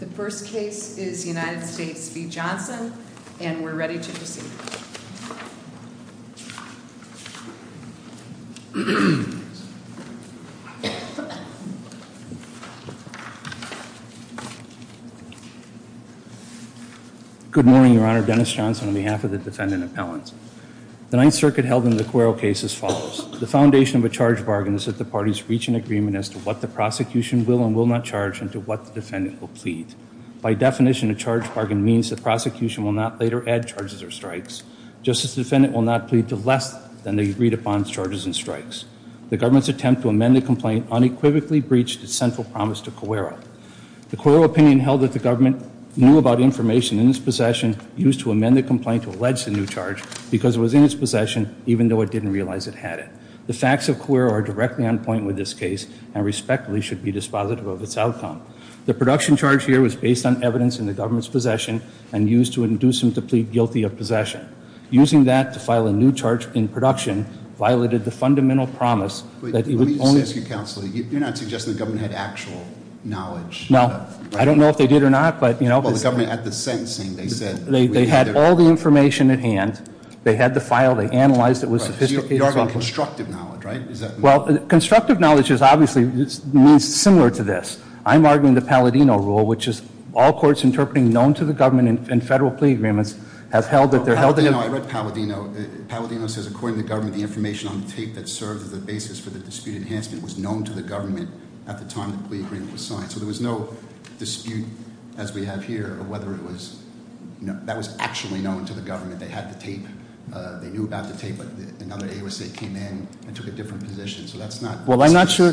The first case is United States v. Johnson, and we're ready to proceed. Good morning, Your Honor. Dennis Johnson on behalf of the Defendant Appellants. The Ninth Circuit held in the Cuero case as follows. The foundation of a charge bargain is that the parties reach an agreement as to what the prosecution will and will not charge and to what the Defendant will plead. By definition, a charge bargain means the prosecution will not later add charges or strikes. Justice Defendant will not plead to less than they agreed upon charges and strikes. The government's attempt to amend the complaint unequivocally breached its central promise to Cuero. The Cuero opinion held that the government knew about information in its possession used to amend the complaint to allege the new charge because it was in its possession even though it didn't realize it had it. The facts of Cuero are directly on point with this case and respectfully should be dispositive of its outcome. The production charge here was based on evidence in the government's possession and used to induce them to plead guilty of possession. Using that to file a new charge in production violated the fundamental promise that it would only- Let me just ask you, Counselor, you're not suggesting the government had actual knowledge of- No. I don't know if they did or not, but, you know- Well, the government, at the sentencing, they said- They had all the information at hand. They had the file. They analyzed it. They had all the sophisticated- So you're arguing constructive knowledge, right? Is that- Well, constructive knowledge is obviously, means similar to this. I'm arguing the Palladino rule, which is all courts interpreting known to the government in federal plea agreements have held that they're held in- No. I read Palladino. Palladino says, according to the government, the information on the tape that serves as a basis for the dispute enhancement was known to the government at the time the plea agreement was signed. So there was no dispute, as we have here, of whether it was, you know, that was actually known to the government. They had the tape. They knew about the tape, but another AOSA came in and took a different position. So that's not- Well, I'm not sure.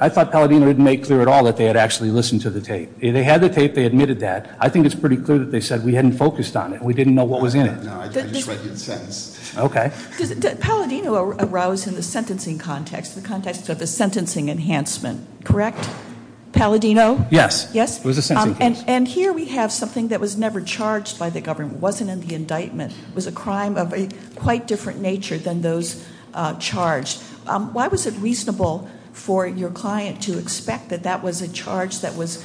I thought Palladino didn't make clear at all that they had actually listened to the tape. They had the tape. They admitted that. I think it's pretty clear that they said, we hadn't focused on it. We didn't know what was in it. No. I just read you the sentence. Okay. Does Palladino arouse in the sentencing context, the context of the sentencing enhancement, correct? Palladino? Yes. Yes. It was a sentencing case. And here we have something that was never charged by the government, wasn't in the indictment, was a crime of a quite different nature than those charged. Why was it reasonable for your client to expect that that was a charge that was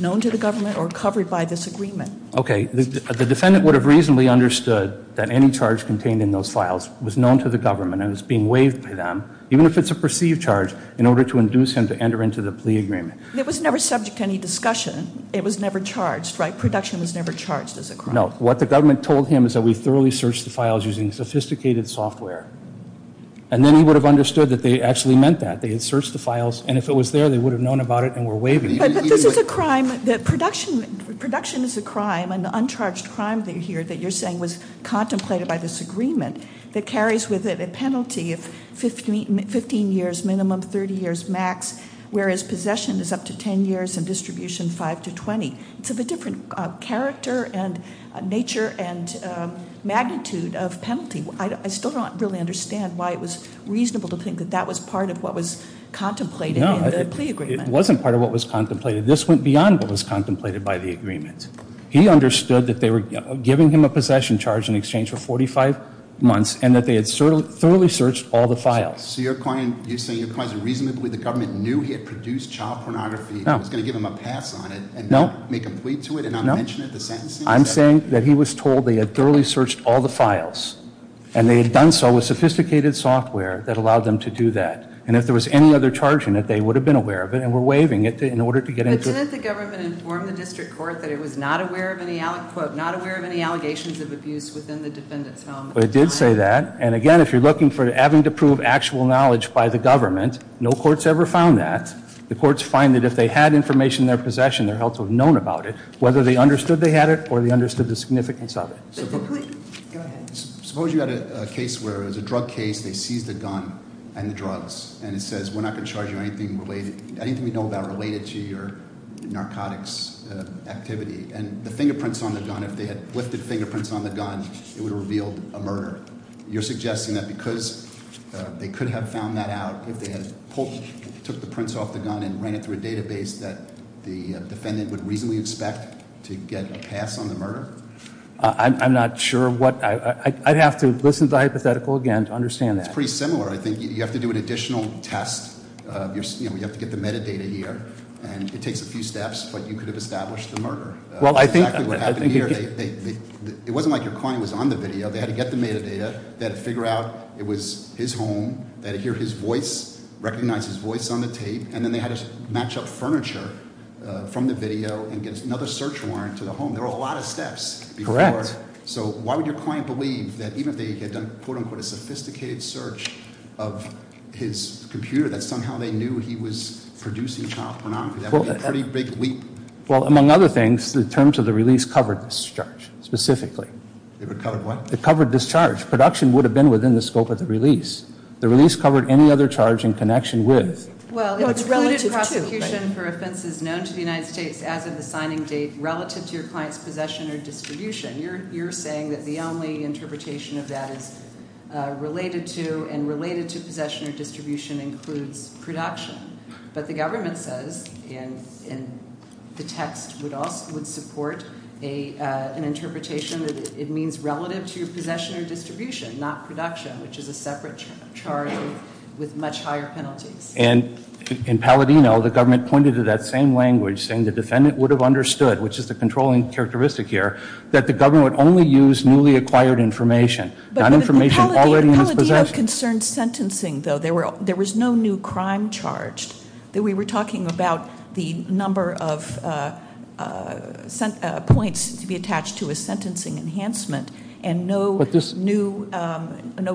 known to the government or covered by this agreement? Okay. The defendant would have reasonably understood that any charge contained in those files was known to the government and was being waived by them, even if it's a perceived charge, in order to induce him to enter into the plea agreement. It was never subject to any discussion. It was never charged, right? Production was never charged as a crime. No. What the government told him is that we thoroughly searched the files using sophisticated software. And then he would have understood that they actually meant that. They had searched the files, and if it was there, they would have known about it and were waiving it. But this is a crime that production, production is a crime, an uncharged crime here that you're saying was contemplated by this agreement that carries with it a penalty of 15 years minimum, 30 years max, whereas possession is up to 10 years and distribution 5 to 20. So the different character and nature and magnitude of penalty, I still don't really understand why it was reasonable to think that that was part of what was contemplated in the plea agreement. No, it wasn't part of what was contemplated. This went beyond what was contemplated by the agreement. He understood that they were giving him a possession charge in exchange for 45 months and that they had thoroughly searched all the files. So you're saying your client is reasonably the government knew he had produced child pornography and was going to give him a pass on it and not make a plea to it and not mention it in the sentencing? I'm saying that he was told they had thoroughly searched all the files. And they had done so with sophisticated software that allowed them to do that. And if there was any other charge in it, they would have been aware of it and were waiving it in order to get into it. But didn't the government inform the district court that it was not aware of any allegations of abuse within the defendant's home? It did say that. And again, if you're looking for having to prove actual knowledge by the government, no court's ever found that. The courts find that if they had information in their possession, they're held to have known about it, whether they understood they had it or they understood the significance of it. Go ahead. Suppose you had a case where it was a drug case, they seized a gun and the drugs. And it says we're not going to charge you anything related, anything we know about related to your narcotics activity. And the fingerprints on the gun, if they had lifted fingerprints on the gun, it would have revealed a murder. You're suggesting that because they could have found that out if they had pulled, took the prints off the gun and ran it through a database that the defendant would reasonably expect to get a pass on the murder? I'm not sure what, I'd have to listen to the hypothetical again to understand that. It's pretty similar. I think you have to do an additional test, you have to get the metadata here, and it takes a few steps, but you could have established the murder. Well, I think- Exactly what happened here, it wasn't like your client was on the video. They had to get the metadata, they had to figure out it was his home, they had to hear his voice, recognize his voice on the tape. And then they had to match up furniture from the video and get another search warrant to the home. There were a lot of steps. Correct. So why would your client believe that even if they had done, quote unquote, a sophisticated search of his computer, that somehow they knew he was producing child pornography, that would be a pretty big leap. Well, among other things, the terms of the release covered this charge, specifically. It would cover what? It covered this charge. Production would have been within the scope of the release. The release covered any other charge in connection with- Well, it included prosecution for offenses known to the United States as of the signing date relative to your client's possession or distribution. You're saying that the only interpretation of that is related to, and related to possession or distribution includes production. But the government says in the text would support an interpretation that it means relative to your possession or distribution, not production, which is a separate charge with much higher penalties. And in Palladino, the government pointed to that same language, saying the defendant would have understood, which is the controlling characteristic here, that the government would only use newly acquired information, not information already in his possession. Palladino concerned sentencing, though. There was no new crime charged. We were talking about the number of points to be attached to a sentencing enhancement and no new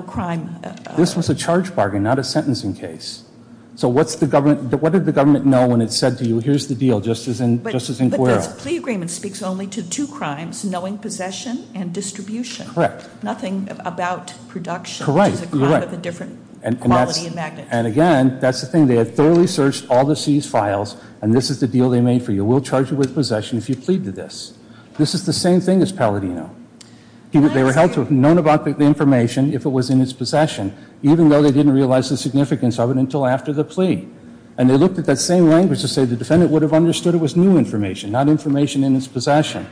crime. This was a charge bargain, not a sentencing case. So what did the government know when it said to you, here's the deal, just as in Guerrero? But this plea agreement speaks only to two crimes, knowing possession and distribution. Correct. Nothing about production. Correct. Which is a crime of a different quality and magnitude. And again, that's the thing. They had thoroughly searched all the seized files, and this is the deal they made for you. We'll charge you with possession if you plead to this. This is the same thing as Palladino. They were held to have known about the information, if it was in his possession, even though they didn't realize the significance of it until after the plea. And they looked at that same language to say the defendant would have understood it was new information, not information in his possession.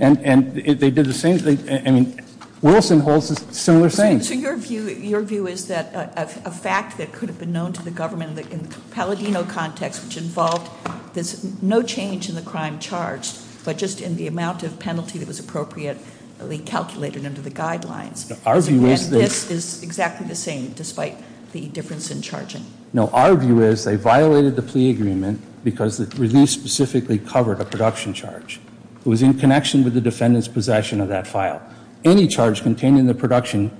And they did the same thing, I mean, Wilson holds a similar thing. Your view is that a fact that could have been known to the government in the Palladino context, which involved no change in the crime charged, but just in the amount of penalty that was appropriately calculated under the guidelines. Our view is that- This is exactly the same, despite the difference in charging. No, our view is they violated the plea agreement because the release specifically covered a production charge. It was in connection with the defendant's possession of that file. Any charge contained in the production,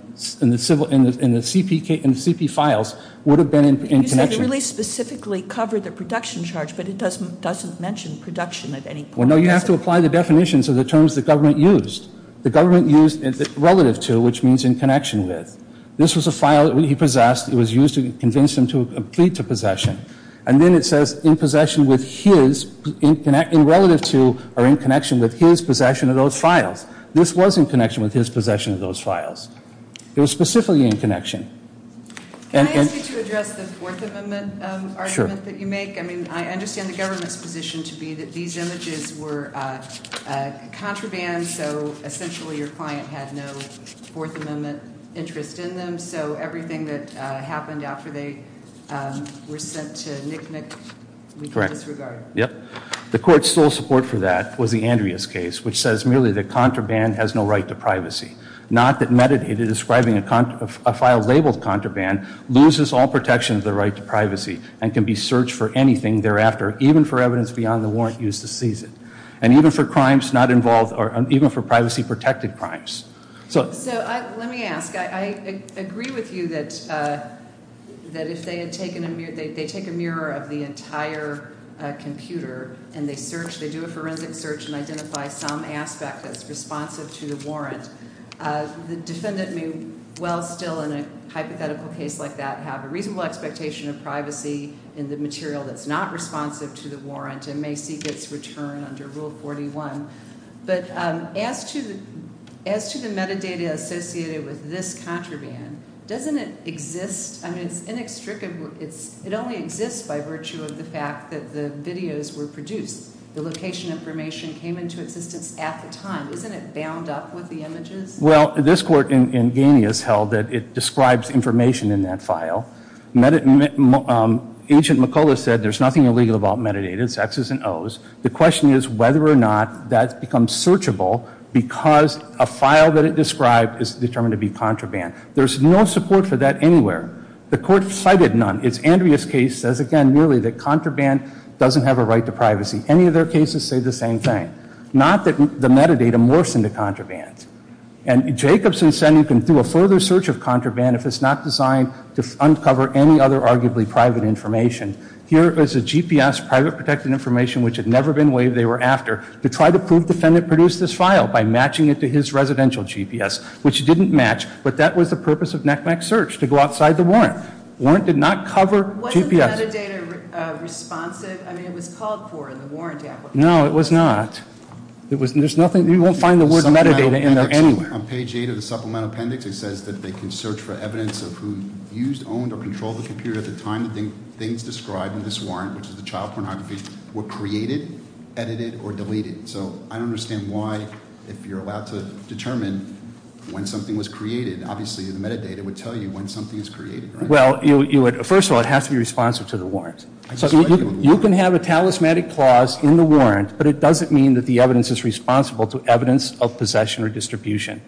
in the CP files, would have been in connection. You said the release specifically covered the production charge, but it doesn't mention production at any point. Well, no, you have to apply the definitions of the terms the government used. The government used relative to, which means in connection with. This was a file that he possessed, it was used to convince him to plead to possession. And then it says in possession with his, in relative to, or in connection with his possession of those files. This was in connection with his possession of those files. It was specifically in connection. Can I ask you to address the Fourth Amendment argument that you make? I mean, I understand the government's position to be that these images were contraband, so essentially your client had no Fourth Amendment interest in them. So everything that happened after they were sent to NICNIC, we can disregard. Yep. The court's sole support for that was the Andreas case, which says merely that contraband has no right to privacy. Not that metadata describing a file labeled contraband loses all protection of the right to privacy, and can be searched for anything thereafter, even for evidence beyond the warrant used to seize it. And even for crimes not involved, or even for privacy-protected crimes. So let me ask, I agree with you that if they had taken a mirror, a mirror of the entire computer, and they search, they do a forensic search, and identify some aspect that's responsive to the warrant, the defendant may well still, in a hypothetical case like that, have a reasonable expectation of privacy in the material that's not responsive to the warrant, and may seek its return under Rule 41. But as to the metadata associated with this contraband, doesn't it exist, I mean it's inextricable, it only exists by virtue of the fact that the videos were produced. The location information came into existence at the time. Isn't it bound up with the images? Well, this court in Ganey has held that it describes information in that file. Agent McCullough said there's nothing illegal about metadata, it's X's and O's. The question is whether or not that becomes searchable because a file that it described is determined to be contraband. There's no support for that anywhere. The court cited none. It's Andrea's case, says again merely that contraband doesn't have a right to privacy. Any of their cases say the same thing. Not that the metadata morphs into contraband. And Jacobson said you can do a further search of contraband if it's not designed to uncover any other arguably private information. Here is a GPS, private protected information, which had never been waived, they were after, to try to prove the defendant produced this file by matching it to his residential GPS, which didn't match. But that was the purpose of NACMAC's search, to go outside the warrant. Warrant did not cover GPS. Wasn't the metadata responsive? I mean, it was called for in the warrant application. No, it was not. There's nothing, you won't find the word metadata in there anywhere. On page eight of the supplemental appendix, it says that they can search for evidence of who used, owned, or controlled the computer at the time the things described in this warrant, which is the child pornography, were created, edited, or deleted. So I don't understand why, if you're allowed to determine when something was created, obviously the metadata would tell you when something is created, right? Well, first of all, it has to be responsive to the warrant. So you can have a talismanic clause in the warrant, but it doesn't mean that the evidence is responsible to evidence of possession or distribution.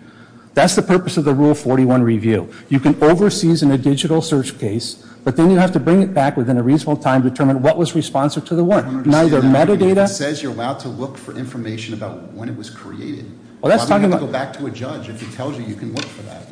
That's the purpose of the Rule 41 review. You can over-season a digital search case, but then you have to bring it back within a reasonable time to determine what was responsive to the warrant. I don't understand that. It says you're allowed to look for information about when it was created. Why would you go back to a judge if he tells you you can look for that?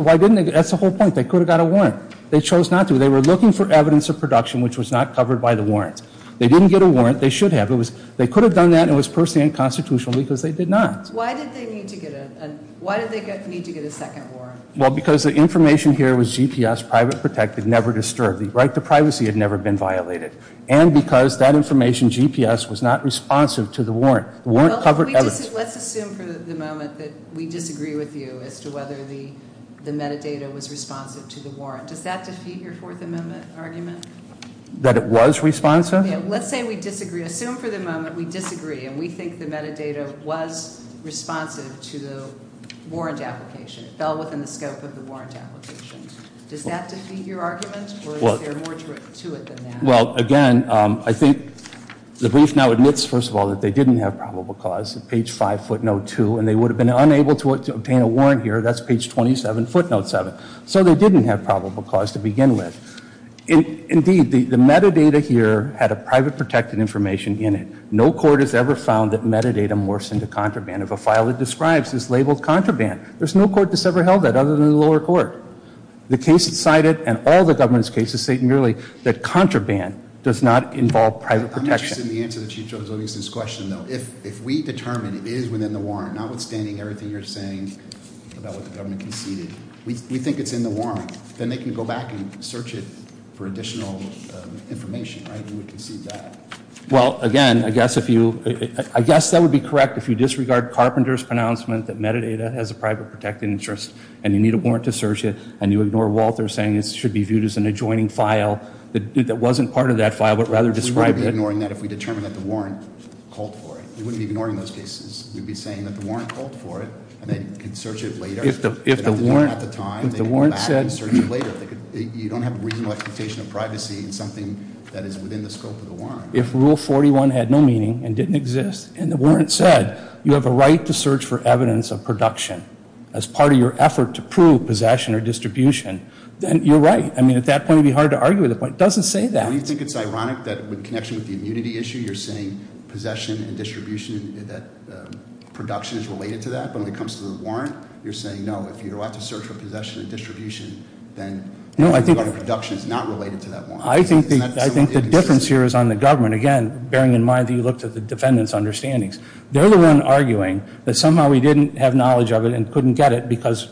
Why didn't they, that's the whole point. They could have got a warrant. They chose not to. They were looking for evidence of production which was not covered by the warrant. They didn't get a warrant, they should have. They could have done that and it was personally unconstitutional because they did not. Why did they need to get a second warrant? Well, because the information here was GPS, private protected, never disturbed. The right to privacy had never been violated. And because that information, GPS, was not responsive to the warrant. The warrant covered evidence. Let's assume for the moment that we disagree with you as to whether the metadata was responsive to the warrant. Does that defeat your Fourth Amendment argument? That it was responsive? Let's say we disagree. Assume for the moment we disagree and we think the metadata was responsive to the warrant application. It fell within the scope of the warrant application. Does that defeat your argument or is there more to it than that? Well, again, I think the brief now admits, first of all, that they didn't have probable cause, page 5, footnote 2. And they would have been unable to obtain a warrant here. That's page 27, footnote 7. So they didn't have probable cause to begin with. Indeed, the metadata here had a private protected information in it. No court has ever found that metadata morphs into contraband. If a file it describes is labeled contraband, there's no court that's ever held that other than the lower court. The case cited and all the government's cases state merely that contraband does not involve private protection. I'm interested in the answer to Chief Joe Zoghieson's question, though. If we determine it is within the warrant, notwithstanding everything you're saying about what the government conceded, we think it's in the warrant, then they can go back and search it for additional information, right? We would concede that. Well, again, I guess that would be correct if you disregard Carpenter's pronouncement that metadata has a private protected interest. And you need a warrant to search it. And you ignore Walter's saying it should be viewed as an adjoining file that wasn't part of that file, but rather described it. We wouldn't be ignoring that if we determined that the warrant called for it. We wouldn't be ignoring those cases. We'd be saying that the warrant called for it, and they could search it later. If the warrant at the time, they could go back and search it later. You don't have a reasonable expectation of privacy in something that is within the scope of the warrant. If Rule 41 had no meaning and didn't exist, and the warrant said, you have a right to search for evidence of production. As part of your effort to prove possession or distribution, then you're right. I mean, at that point, it would be hard to argue with the point. It doesn't say that. Do you think it's ironic that in connection with the immunity issue, you're saying possession and distribution, that production is related to that, but when it comes to the warrant, you're saying no. If you're allowed to search for possession and distribution, then- No, I think- The production is not related to that warrant. I think the difference here is on the government. Again, bearing in mind that you looked at the defendant's understandings. They're the one arguing that somehow we didn't have knowledge of it and couldn't get it because,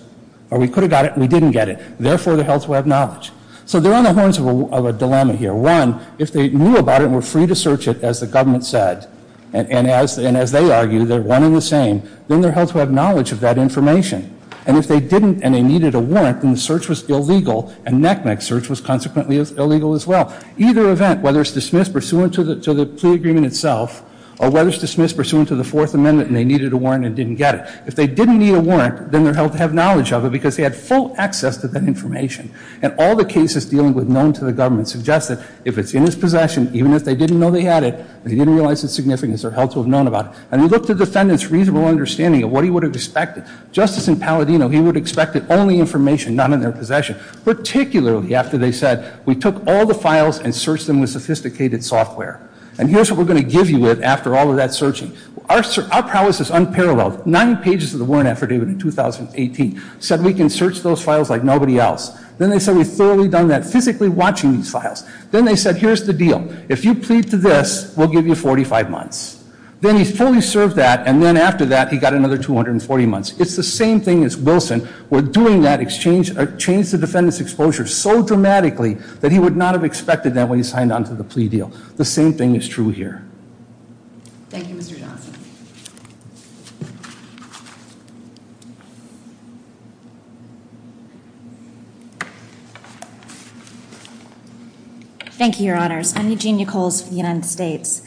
or we could have got it and we didn't get it. Therefore, they're held to have knowledge. So they're on the horns of a dilemma here. One, if they knew about it and were free to search it, as the government said, and as they argue, they're wanting the same. Then they're held to have knowledge of that information. And if they didn't and they needed a warrant, then the search was illegal, and NECMEC's search was consequently illegal as well. Either event, whether it's dismissed pursuant to the plea agreement itself, or whether it's dismissed pursuant to the Fourth Amendment and they needed a warrant and didn't get it. If they didn't need a warrant, then they're held to have knowledge of it because they had full access to that information. And all the cases dealing with known to the government suggest that if it's in his possession, even if they didn't know they had it, and they didn't realize its significance, they're held to have known about it. And we looked at the defendant's reasonable understanding of what he would have expected. Justice Impaladino, he would have expected only information not in their possession. Particularly after they said, we took all the files and searched them with sophisticated software. And here's what we're going to give you after all of that searching. Our prowess is unparalleled. Nine pages of the warrant affidavit in 2018 said we can search those files like nobody else. Then they said we've thoroughly done that, physically watching these files. Then they said, here's the deal. If you plead to this, we'll give you 45 months. Then he fully served that, and then after that, he got another 240 months. It's the same thing as Wilson. We're doing that exchange, change the defendant's exposure so dramatically that he would not have expected that when he signed on to the plea deal. The same thing is true here. Thank you, Mr. Johnson. Thank you, your honors. I'm Eugenia Coles from the United States.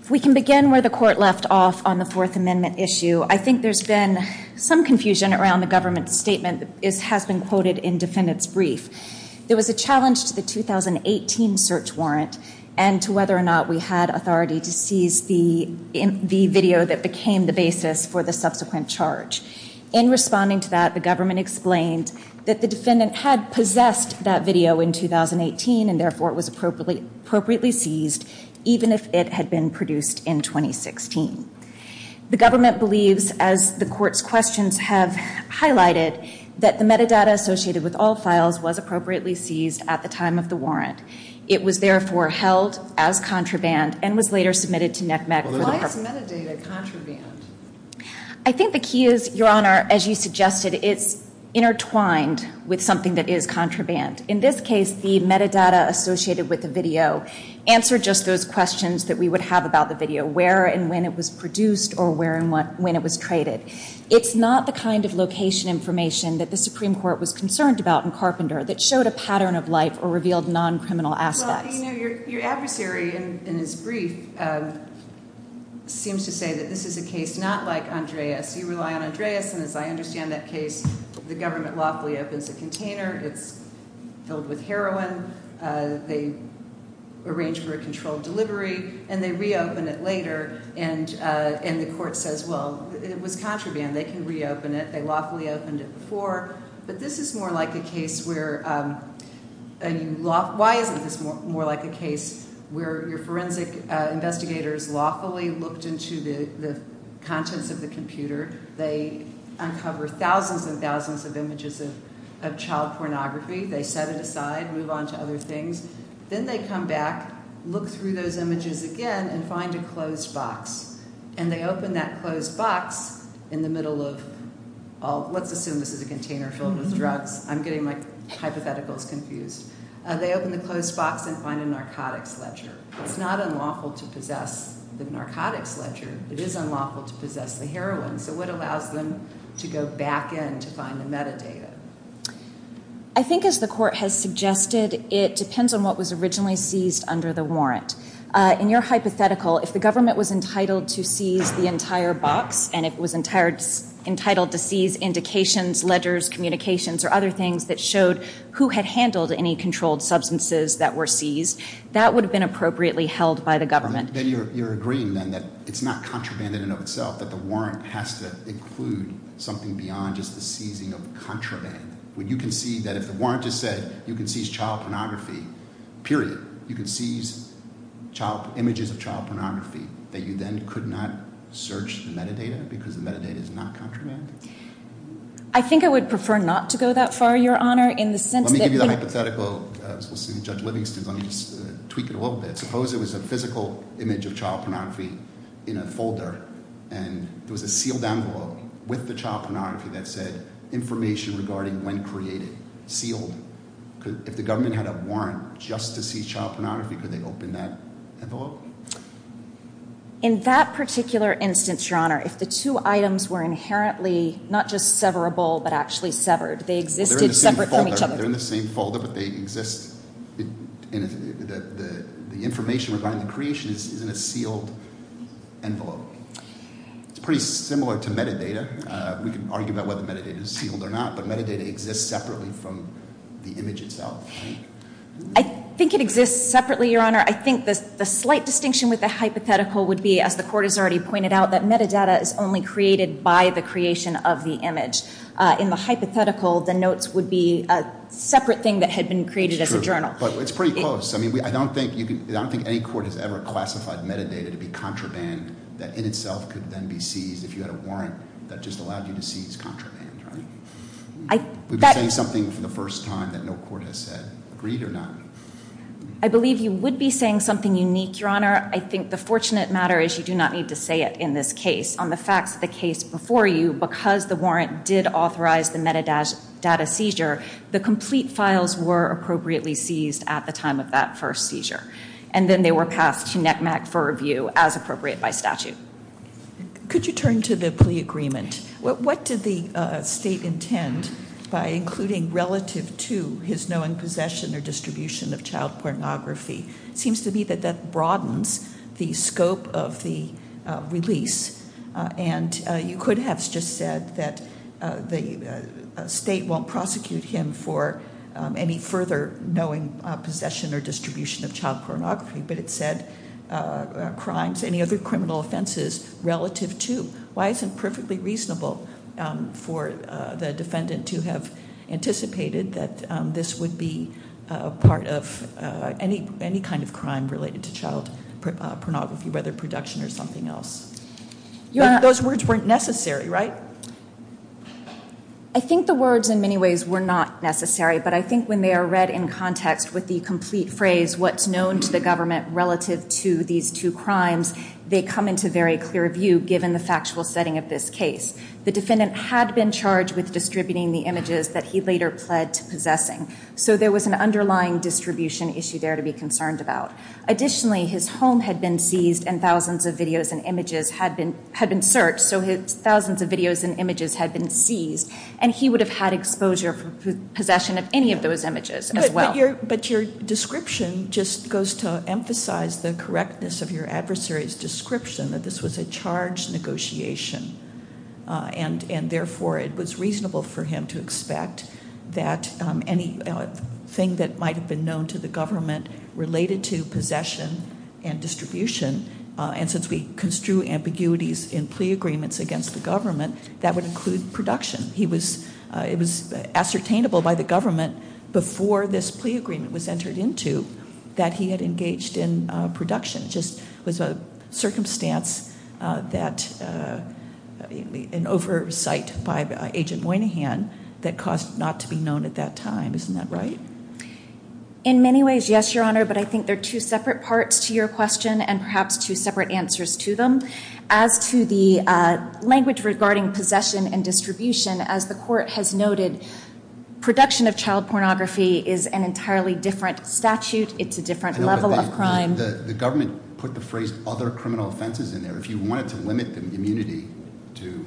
If we can begin where the court left off on the Fourth Amendment issue. I think there's been some confusion around the government's statement. It has been quoted in defendant's brief. There was a challenge to the 2018 search warrant, and to whether or not we had authority to seize the video that became the basis for the subsequent charge. In responding to that, the government explained that the defendant had possessed that video in 2018, and therefore it was appropriately seized, even if it had been produced in 2016. The government believes, as the court's questions have highlighted, that the metadata associated with all files was appropriately seized at the time of the warrant. It was therefore held as contraband, and was later submitted to NCMEC. Why is metadata contraband? I think the key is, your honor, as you suggested, it's intertwined with something that is contraband. In this case, the metadata associated with the video answered just those questions that we would have about the video, where and when it was produced, or where and when it was traded. It's not the kind of location information that the Supreme Court was concerned about in Carpenter, that showed a pattern of life, or revealed non-criminal aspects. Well, you know, your adversary, in his brief, seems to say that this is a case not like Andreas. You rely on Andreas, and as I understand that case, the government lawfully opens a container. It's filled with heroin. They arrange for a controlled delivery, and they reopen it later. And the court says, well, it was contraband. They can reopen it. They lawfully opened it before. But this is more like a case where, why isn't this more like a case where your forensic investigators lawfully looked into the contents of the computer. They uncover thousands and thousands of images of child pornography. They set it aside, move on to other things. Then they come back, look through those images again, and find a closed box. And they open that closed box in the middle of, let's assume this is a container filled with drugs. I'm getting my hypotheticals confused. They open the closed box and find a narcotics ledger. It's not unlawful to possess the narcotics ledger. It is unlawful to possess the heroin. So what allows them to go back in to find the metadata? I think as the court has suggested, it depends on what was originally seized under the warrant. In your hypothetical, if the government was entitled to seize the entire box, and it was entitled to seize indications, ledgers, communications, or other things that showed who had handled any controlled substances that were seized, that would have been appropriately held by the government. Then you're agreeing then that it's not contraband in and of itself, that the warrant has to include something beyond just the seizing of contraband. When you can see that if the warrant just said you can seize child pornography, period, you can seize images of child pornography, that you then could not search the metadata because the metadata is not contraband? I think I would prefer not to go that far, Your Honor, in the sense that... Let me give you the hypothetical, as we'll see in Judge Livingston's. Let me just tweak it a little bit. Suppose it was a physical image of child pornography in a folder, and there was a sealed envelope with the child pornography that said, information regarding when created, sealed. If the government had a warrant just to seize child pornography, could they open that envelope? In that particular instance, Your Honor, if the two items were inherently not just severable, but actually severed, they existed separate from each other. They're in the same folder, but they exist... The information regarding the creation is in a sealed envelope. It's pretty similar to metadata. We can argue about whether metadata is sealed or not, but metadata exists separately from the image itself. I think it exists separately, Your Honor. I think the slight distinction with the hypothetical would be, as the Court has already pointed out, that metadata is only created by the creation of the image. In the hypothetical, the notes would be a separate thing that had been created as a journal. But it's pretty close. I don't think any court has ever classified metadata to be contraband that in itself could then be seized if you had a warrant that just allowed you to seize contraband, right? We've been saying something for the first time that no court has said. Agreed or not? I believe you would be saying something unique, Your Honor. I think the fortunate matter is you do not need to say it in this case. On the facts of the case before you, because the warrant did authorize the metadata seizure, the complete files were appropriately seized at the time of that first seizure. And then they were passed to NCMEC for review as appropriate by statute. Could you turn to the plea agreement? What did the State intend by including relative to his knowing possession or distribution of child pornography? It seems to me that that broadens the scope of the release. And you could have just said that the State won't prosecute him for any further knowing possession or distribution of child pornography. But it said crimes, any other criminal offenses relative to. Why isn't it perfectly reasonable for the defendant to have anticipated that this would be a part of any kind of crime related to child pornography, whether production or something else? Those words weren't necessary, right? I think the words in many ways were not necessary. But I think when they are read in context with the complete phrase, what's known to the government relative to these two crimes, they come into very clear view given the factual setting of this case. The defendant had been charged with distributing the images that he later pled to possessing. So there was an underlying distribution issue there to be concerned about. Additionally, his home had been seized and thousands of videos and images had been searched. So his thousands of videos and images had been seized. And he would have had exposure for possession of any of those images as well. But your description just goes to emphasize the correctness of your adversary's description that this was a charge negotiation. And therefore, it was reasonable for him to expect that anything that might have been known to the government related to possession and distribution, and since we construe ambiguities in plea agreements against the government, that would include production. It was ascertainable by the government before this plea agreement was entered into that he had engaged in production. It just was a circumstance that an oversight by Agent Moynihan that caused not to be known at that time. Isn't that right? In many ways, yes, Your Honor, but I think there are two separate parts to your question and perhaps two separate answers to them. As to the language regarding possession and distribution, as the court has noted, production of child pornography is an entirely different statute. It's a different level of crime. The government put the phrase other criminal offenses in there. If you wanted to limit the immunity to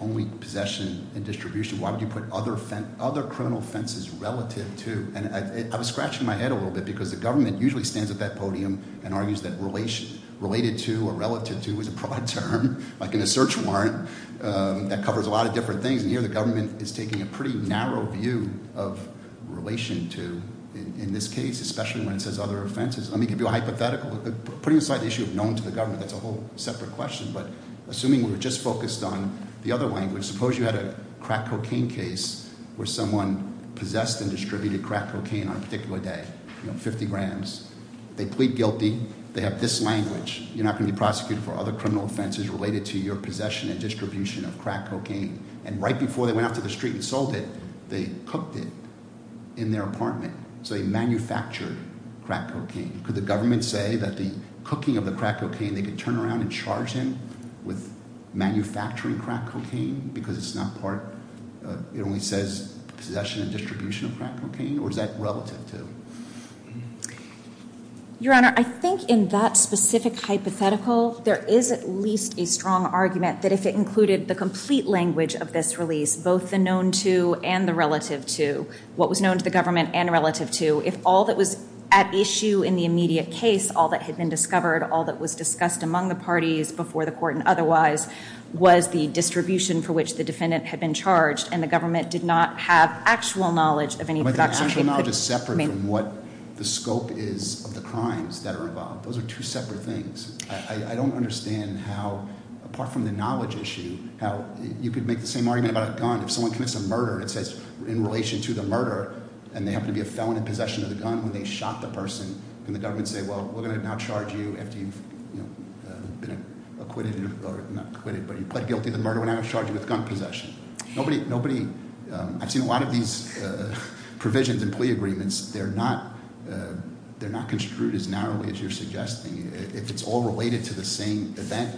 only possession and distribution, why would you put other criminal offenses relative to? And I was scratching my head a little bit because the government usually stands at that podium and argues that related to or relative to is a broad term, like in a search warrant, that covers a lot of different things. And here the government is taking a pretty narrow view of relation to, in this case, especially when it says other offenses. Let me give you a hypothetical. Putting aside the issue of known to the government, that's a whole separate question, but assuming we were just focused on the other language, suppose you had a crack cocaine case where someone possessed and distributed crack cocaine on a particular day, you know, 50 grams. They plead guilty. They have this language. You're not going to be prosecuted for other criminal offenses related to your possession and distribution of crack cocaine. And right before they went out to the street and sold it, they cooked it in their apartment. So they manufactured crack cocaine. Could the government say that the cooking of the crack cocaine, they could turn around and charge him with manufacturing crack cocaine because it only says possession and distribution of crack cocaine? Or is that relative to? Your Honor, I think in that specific hypothetical, there is at least a strong argument that if it included the complete language of this release, both the known to and the relative to, what was known to the government and relative to, if all that was at issue in the immediate case, all that had been discovered, all that was discussed among the parties before the court and otherwise, was the distribution for which the defendant had been charged, and the government did not have actual knowledge of any production. But the actual knowledge is separate from what the scope is of the crimes that are involved. Those are two separate things. I don't understand how, apart from the knowledge issue, how you could make the same argument about a gun. If someone commits a murder, and it says in relation to the murder, and they happen to be a felon in possession of the gun, when they shot the person, can the government say, well, we're going to now charge you after you've been acquitted, or not acquitted, but you pled guilty to the murder, we're now going to charge you with gun possession. I've seen a lot of these provisions in plea agreements. They're not construed as narrowly as you're suggesting. If it's all related to the same event,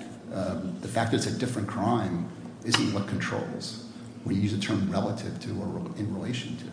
the fact that it's a different crime isn't what controls. We use the term relative to or in relation to.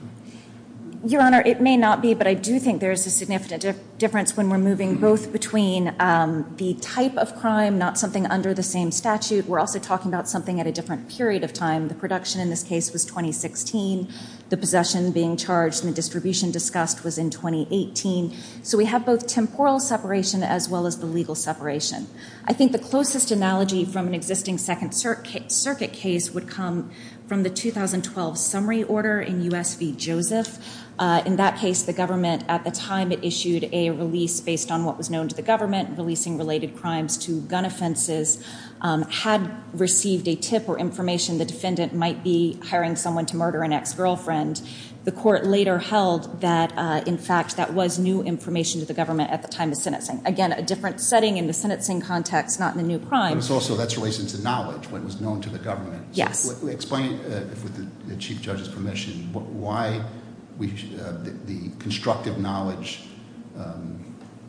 Your Honor, it may not be, but I do think there's a significant difference when we're moving both between the type of crime, not something under the same statute. We're also talking about something at a different period of time. The production in this case was 2016. The possession being charged and the distribution discussed was in 2018. So we have both temporal separation as well as the legal separation. I think the closest analogy from an existing second circuit case would come from the 2012 summary order in U.S. v. Joseph. In that case, the government, at the time it issued a release based on what was known to the government, releasing related crimes to gun offenses, had received a tip or information the defendant might be hiring someone to murder an ex-girlfriend. The court later held that, in fact, that was new information to the government at the time of sentencing. Again, a different setting in the sentencing context, not in the new crime. But that's also related to knowledge, what was known to the government. Explain, with the Chief Judge's permission, why the constructive knowledge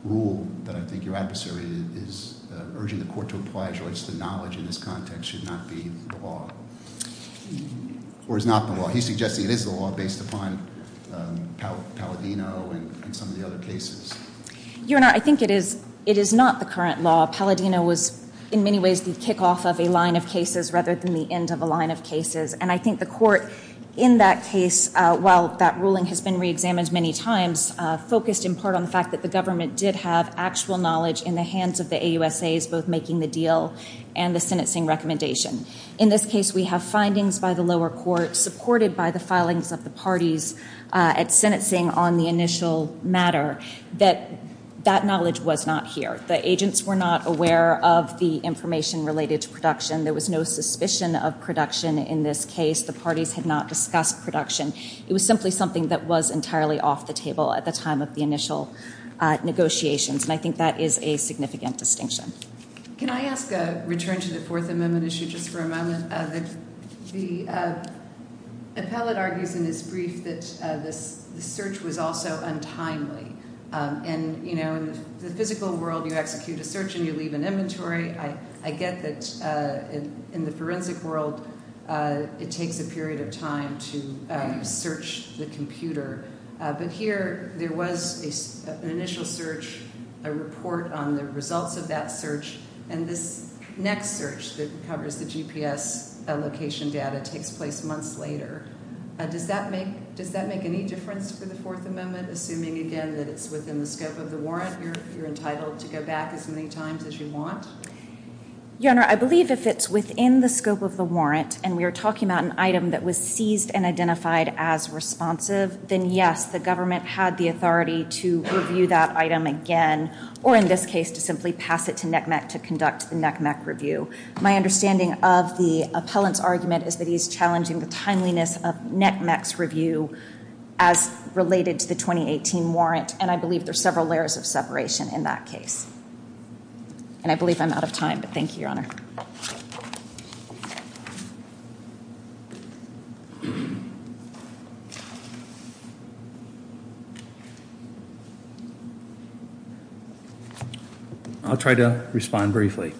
rule that I think your adversary is urging the court to apply in this context should not be the law. Or is not the law. He's suggesting it is the law based upon Palladino and some of the other cases. Your Honor, I think it is not the current law. Palladino was, in many ways, the kickoff of a line of cases rather than the end of a line of cases. And I think the court, in that case, while that ruling has been reexamined many times, focused in part on the fact that the government did have actual knowledge in the hands of the AUSAs, both making the deal and the sentencing recommendation. In this case, we have findings by the lower court supported by the filings of the parties at sentencing on the initial matter that that knowledge was not here. The agents were not aware of the information related to production. There was no suspicion of production in this case. The parties had not discussed production. It was simply something that was entirely off the table at the time of the initial negotiations. And I think that is a significant distinction. Can I ask a return to the Fourth Amendment issue just for a moment? The appellate argues in his brief that the search was also untimely. And in the physical world, you execute a search and you leave an inventory. I get that in the forensic world, it takes a period of time to search the computer. But here, there was an initial search, a report on the results of that search, and this next search that covers the GPS location data takes place months later. Does that make any difference for the Fourth Amendment, assuming again that it's within the scope of the warrant, you're entitled to go back as many times as you want? Your Honor, I believe if it's within the scope of the warrant and we're talking about an item that was seized and identified as responsive, then yes, the government had the authority to review that item again, or in this case, to simply pass it to NCMEC to conduct the NCMEC review. My understanding of the appellant's argument is that he's challenging the timeliness of NCMEC's review as related to the 2018 warrant, and I believe there's several layers of separation in that case. And I believe I'm out of time, but thank you, Your Honor. I'll try to respond briefly.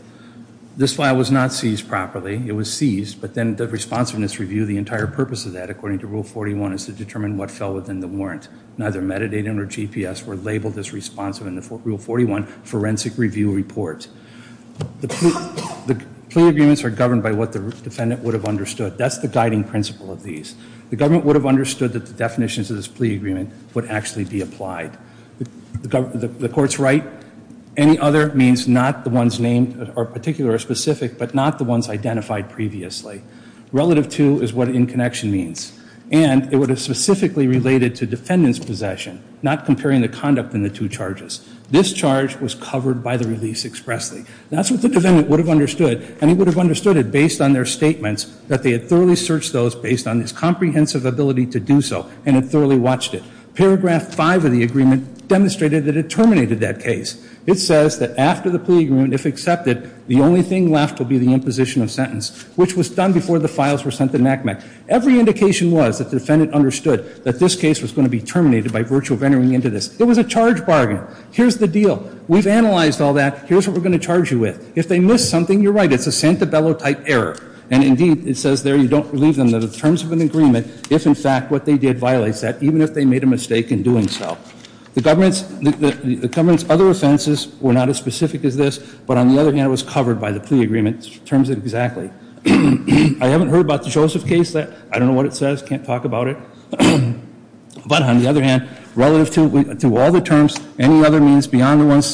This file was not seized properly, it was seized, but then the responsiveness review, the entire purpose of that, according to Rule 41, is to determine what fell within the warrant. Neither metadata nor GPS were labeled as responsive in the Rule 41 Forensic Review Report. The plea agreements are governed by what the defendant would have understood. That's the guiding principle of these. The government would have understood that the definitions of this plea agreement would actually be applied. The court's right. Any other means not the ones named or particular or specific, but not the ones identified previously. Relative to is what in connection means. And it would have specifically related to defendant's possession, not comparing the conduct in the two charges. This charge was covered by the release expressly. That's what the defendant would have understood, and he would have understood it based on their statements that they had thoroughly searched those based on his comprehensive ability to do so, and had thoroughly watched it. Paragraph 5 of the agreement demonstrated that it terminated that case. It says that after the plea agreement, if accepted, the only thing left would be the imposition of sentence, which was done before the files were sent to NACMEC. Every indication was that the defendant understood that this case was going to be terminated by virtue of entering into this. It was a charge bargain. Here's the deal. We've analyzed all that. Here's what we're going to charge you with. If they missed something, you're right. It's a Santabello-type error. And indeed, it says there, you don't leave them the terms of an agreement if in fact what they did violates that, even if they made a mistake in doing so. The government's other offenses were not as specific as this, but on the other hand, it was covered by the plea agreement. It terms it exactly. I haven't heard about the Joseph case yet. I don't know what it says. Can't talk about it. But on the other hand, relative to all the terms, any other means beyond the ones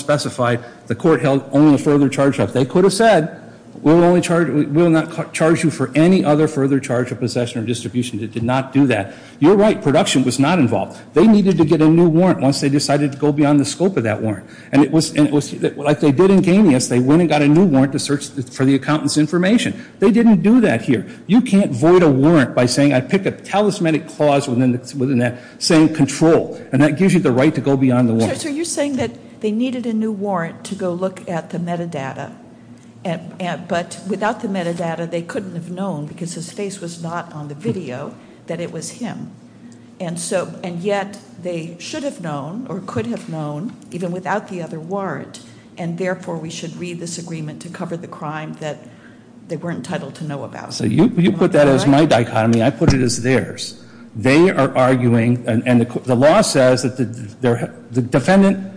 specified, the court held only the further charge left. They could have said, we will not charge you for any other further charge of possession or distribution. It did not do that. You're right. Production was not involved. They needed to get a new warrant once they decided to go beyond the scope of that warrant. And it was like they did in Ganius. They went and got a new warrant to search for the accountant's information. They didn't do that here. You can't void a warrant by saying, I pick a talismanic clause within that saying control. And that gives you the right to go beyond the warrant. So you're saying that they needed a new warrant to go look at the metadata. But without the metadata, they couldn't have known because his face was not on the video, that it was him. And yet, they should have known or could have known even without the other warrant. And therefore, we should read this agreement to cover the crime that they weren't entitled to know about. You put that as my dichotomy. I put it as theirs. They are arguing, and the law says that the defendant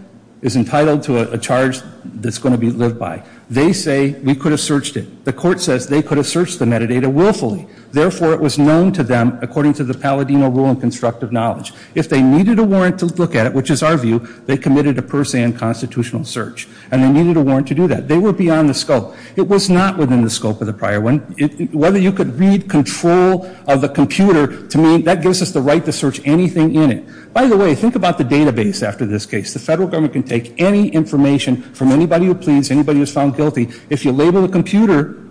is entitled to a charge that's going to be lived by. They say, we could have searched it. The court says they could have searched the metadata willfully. Therefore, it was known to them according to the Palladino Rule in Constructive Knowledge. If they needed a warrant to look at it, which is our view, they committed a per se unconstitutional search. And they needed a warrant to do that. They were beyond the scope. It was not within the scope of the prior one. Whether you could read control of the computer, that gives us the right to search anything in it. By the way, think about the database after this case. The federal government can take any information from anybody who pleads, anybody who's found guilty. If you label the computer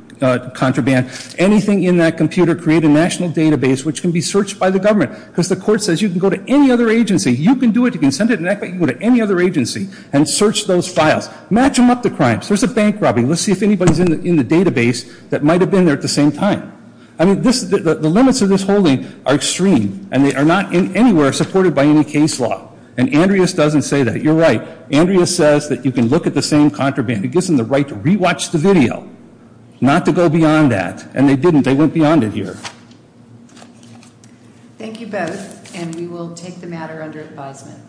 contraband, anything in that computer creates a national database which can be searched by the government. Because the court says you can go to any other agency. You can do it. You can send it to anybody. You can go to any other agency and search those files. Match them up to crimes. There's a bank robbery. Let's see if anybody's in the database that might have been there at the same time. The limits of this holding are extreme. And they are not in anywhere supported by any case law. And Andreas doesn't say that. You're right. Andreas says that you can look at the same contraband. It gives them the right to re-watch the video. Not to go beyond that. And they didn't. They went beyond it here. Thank you both. And we will take the matter under advisement.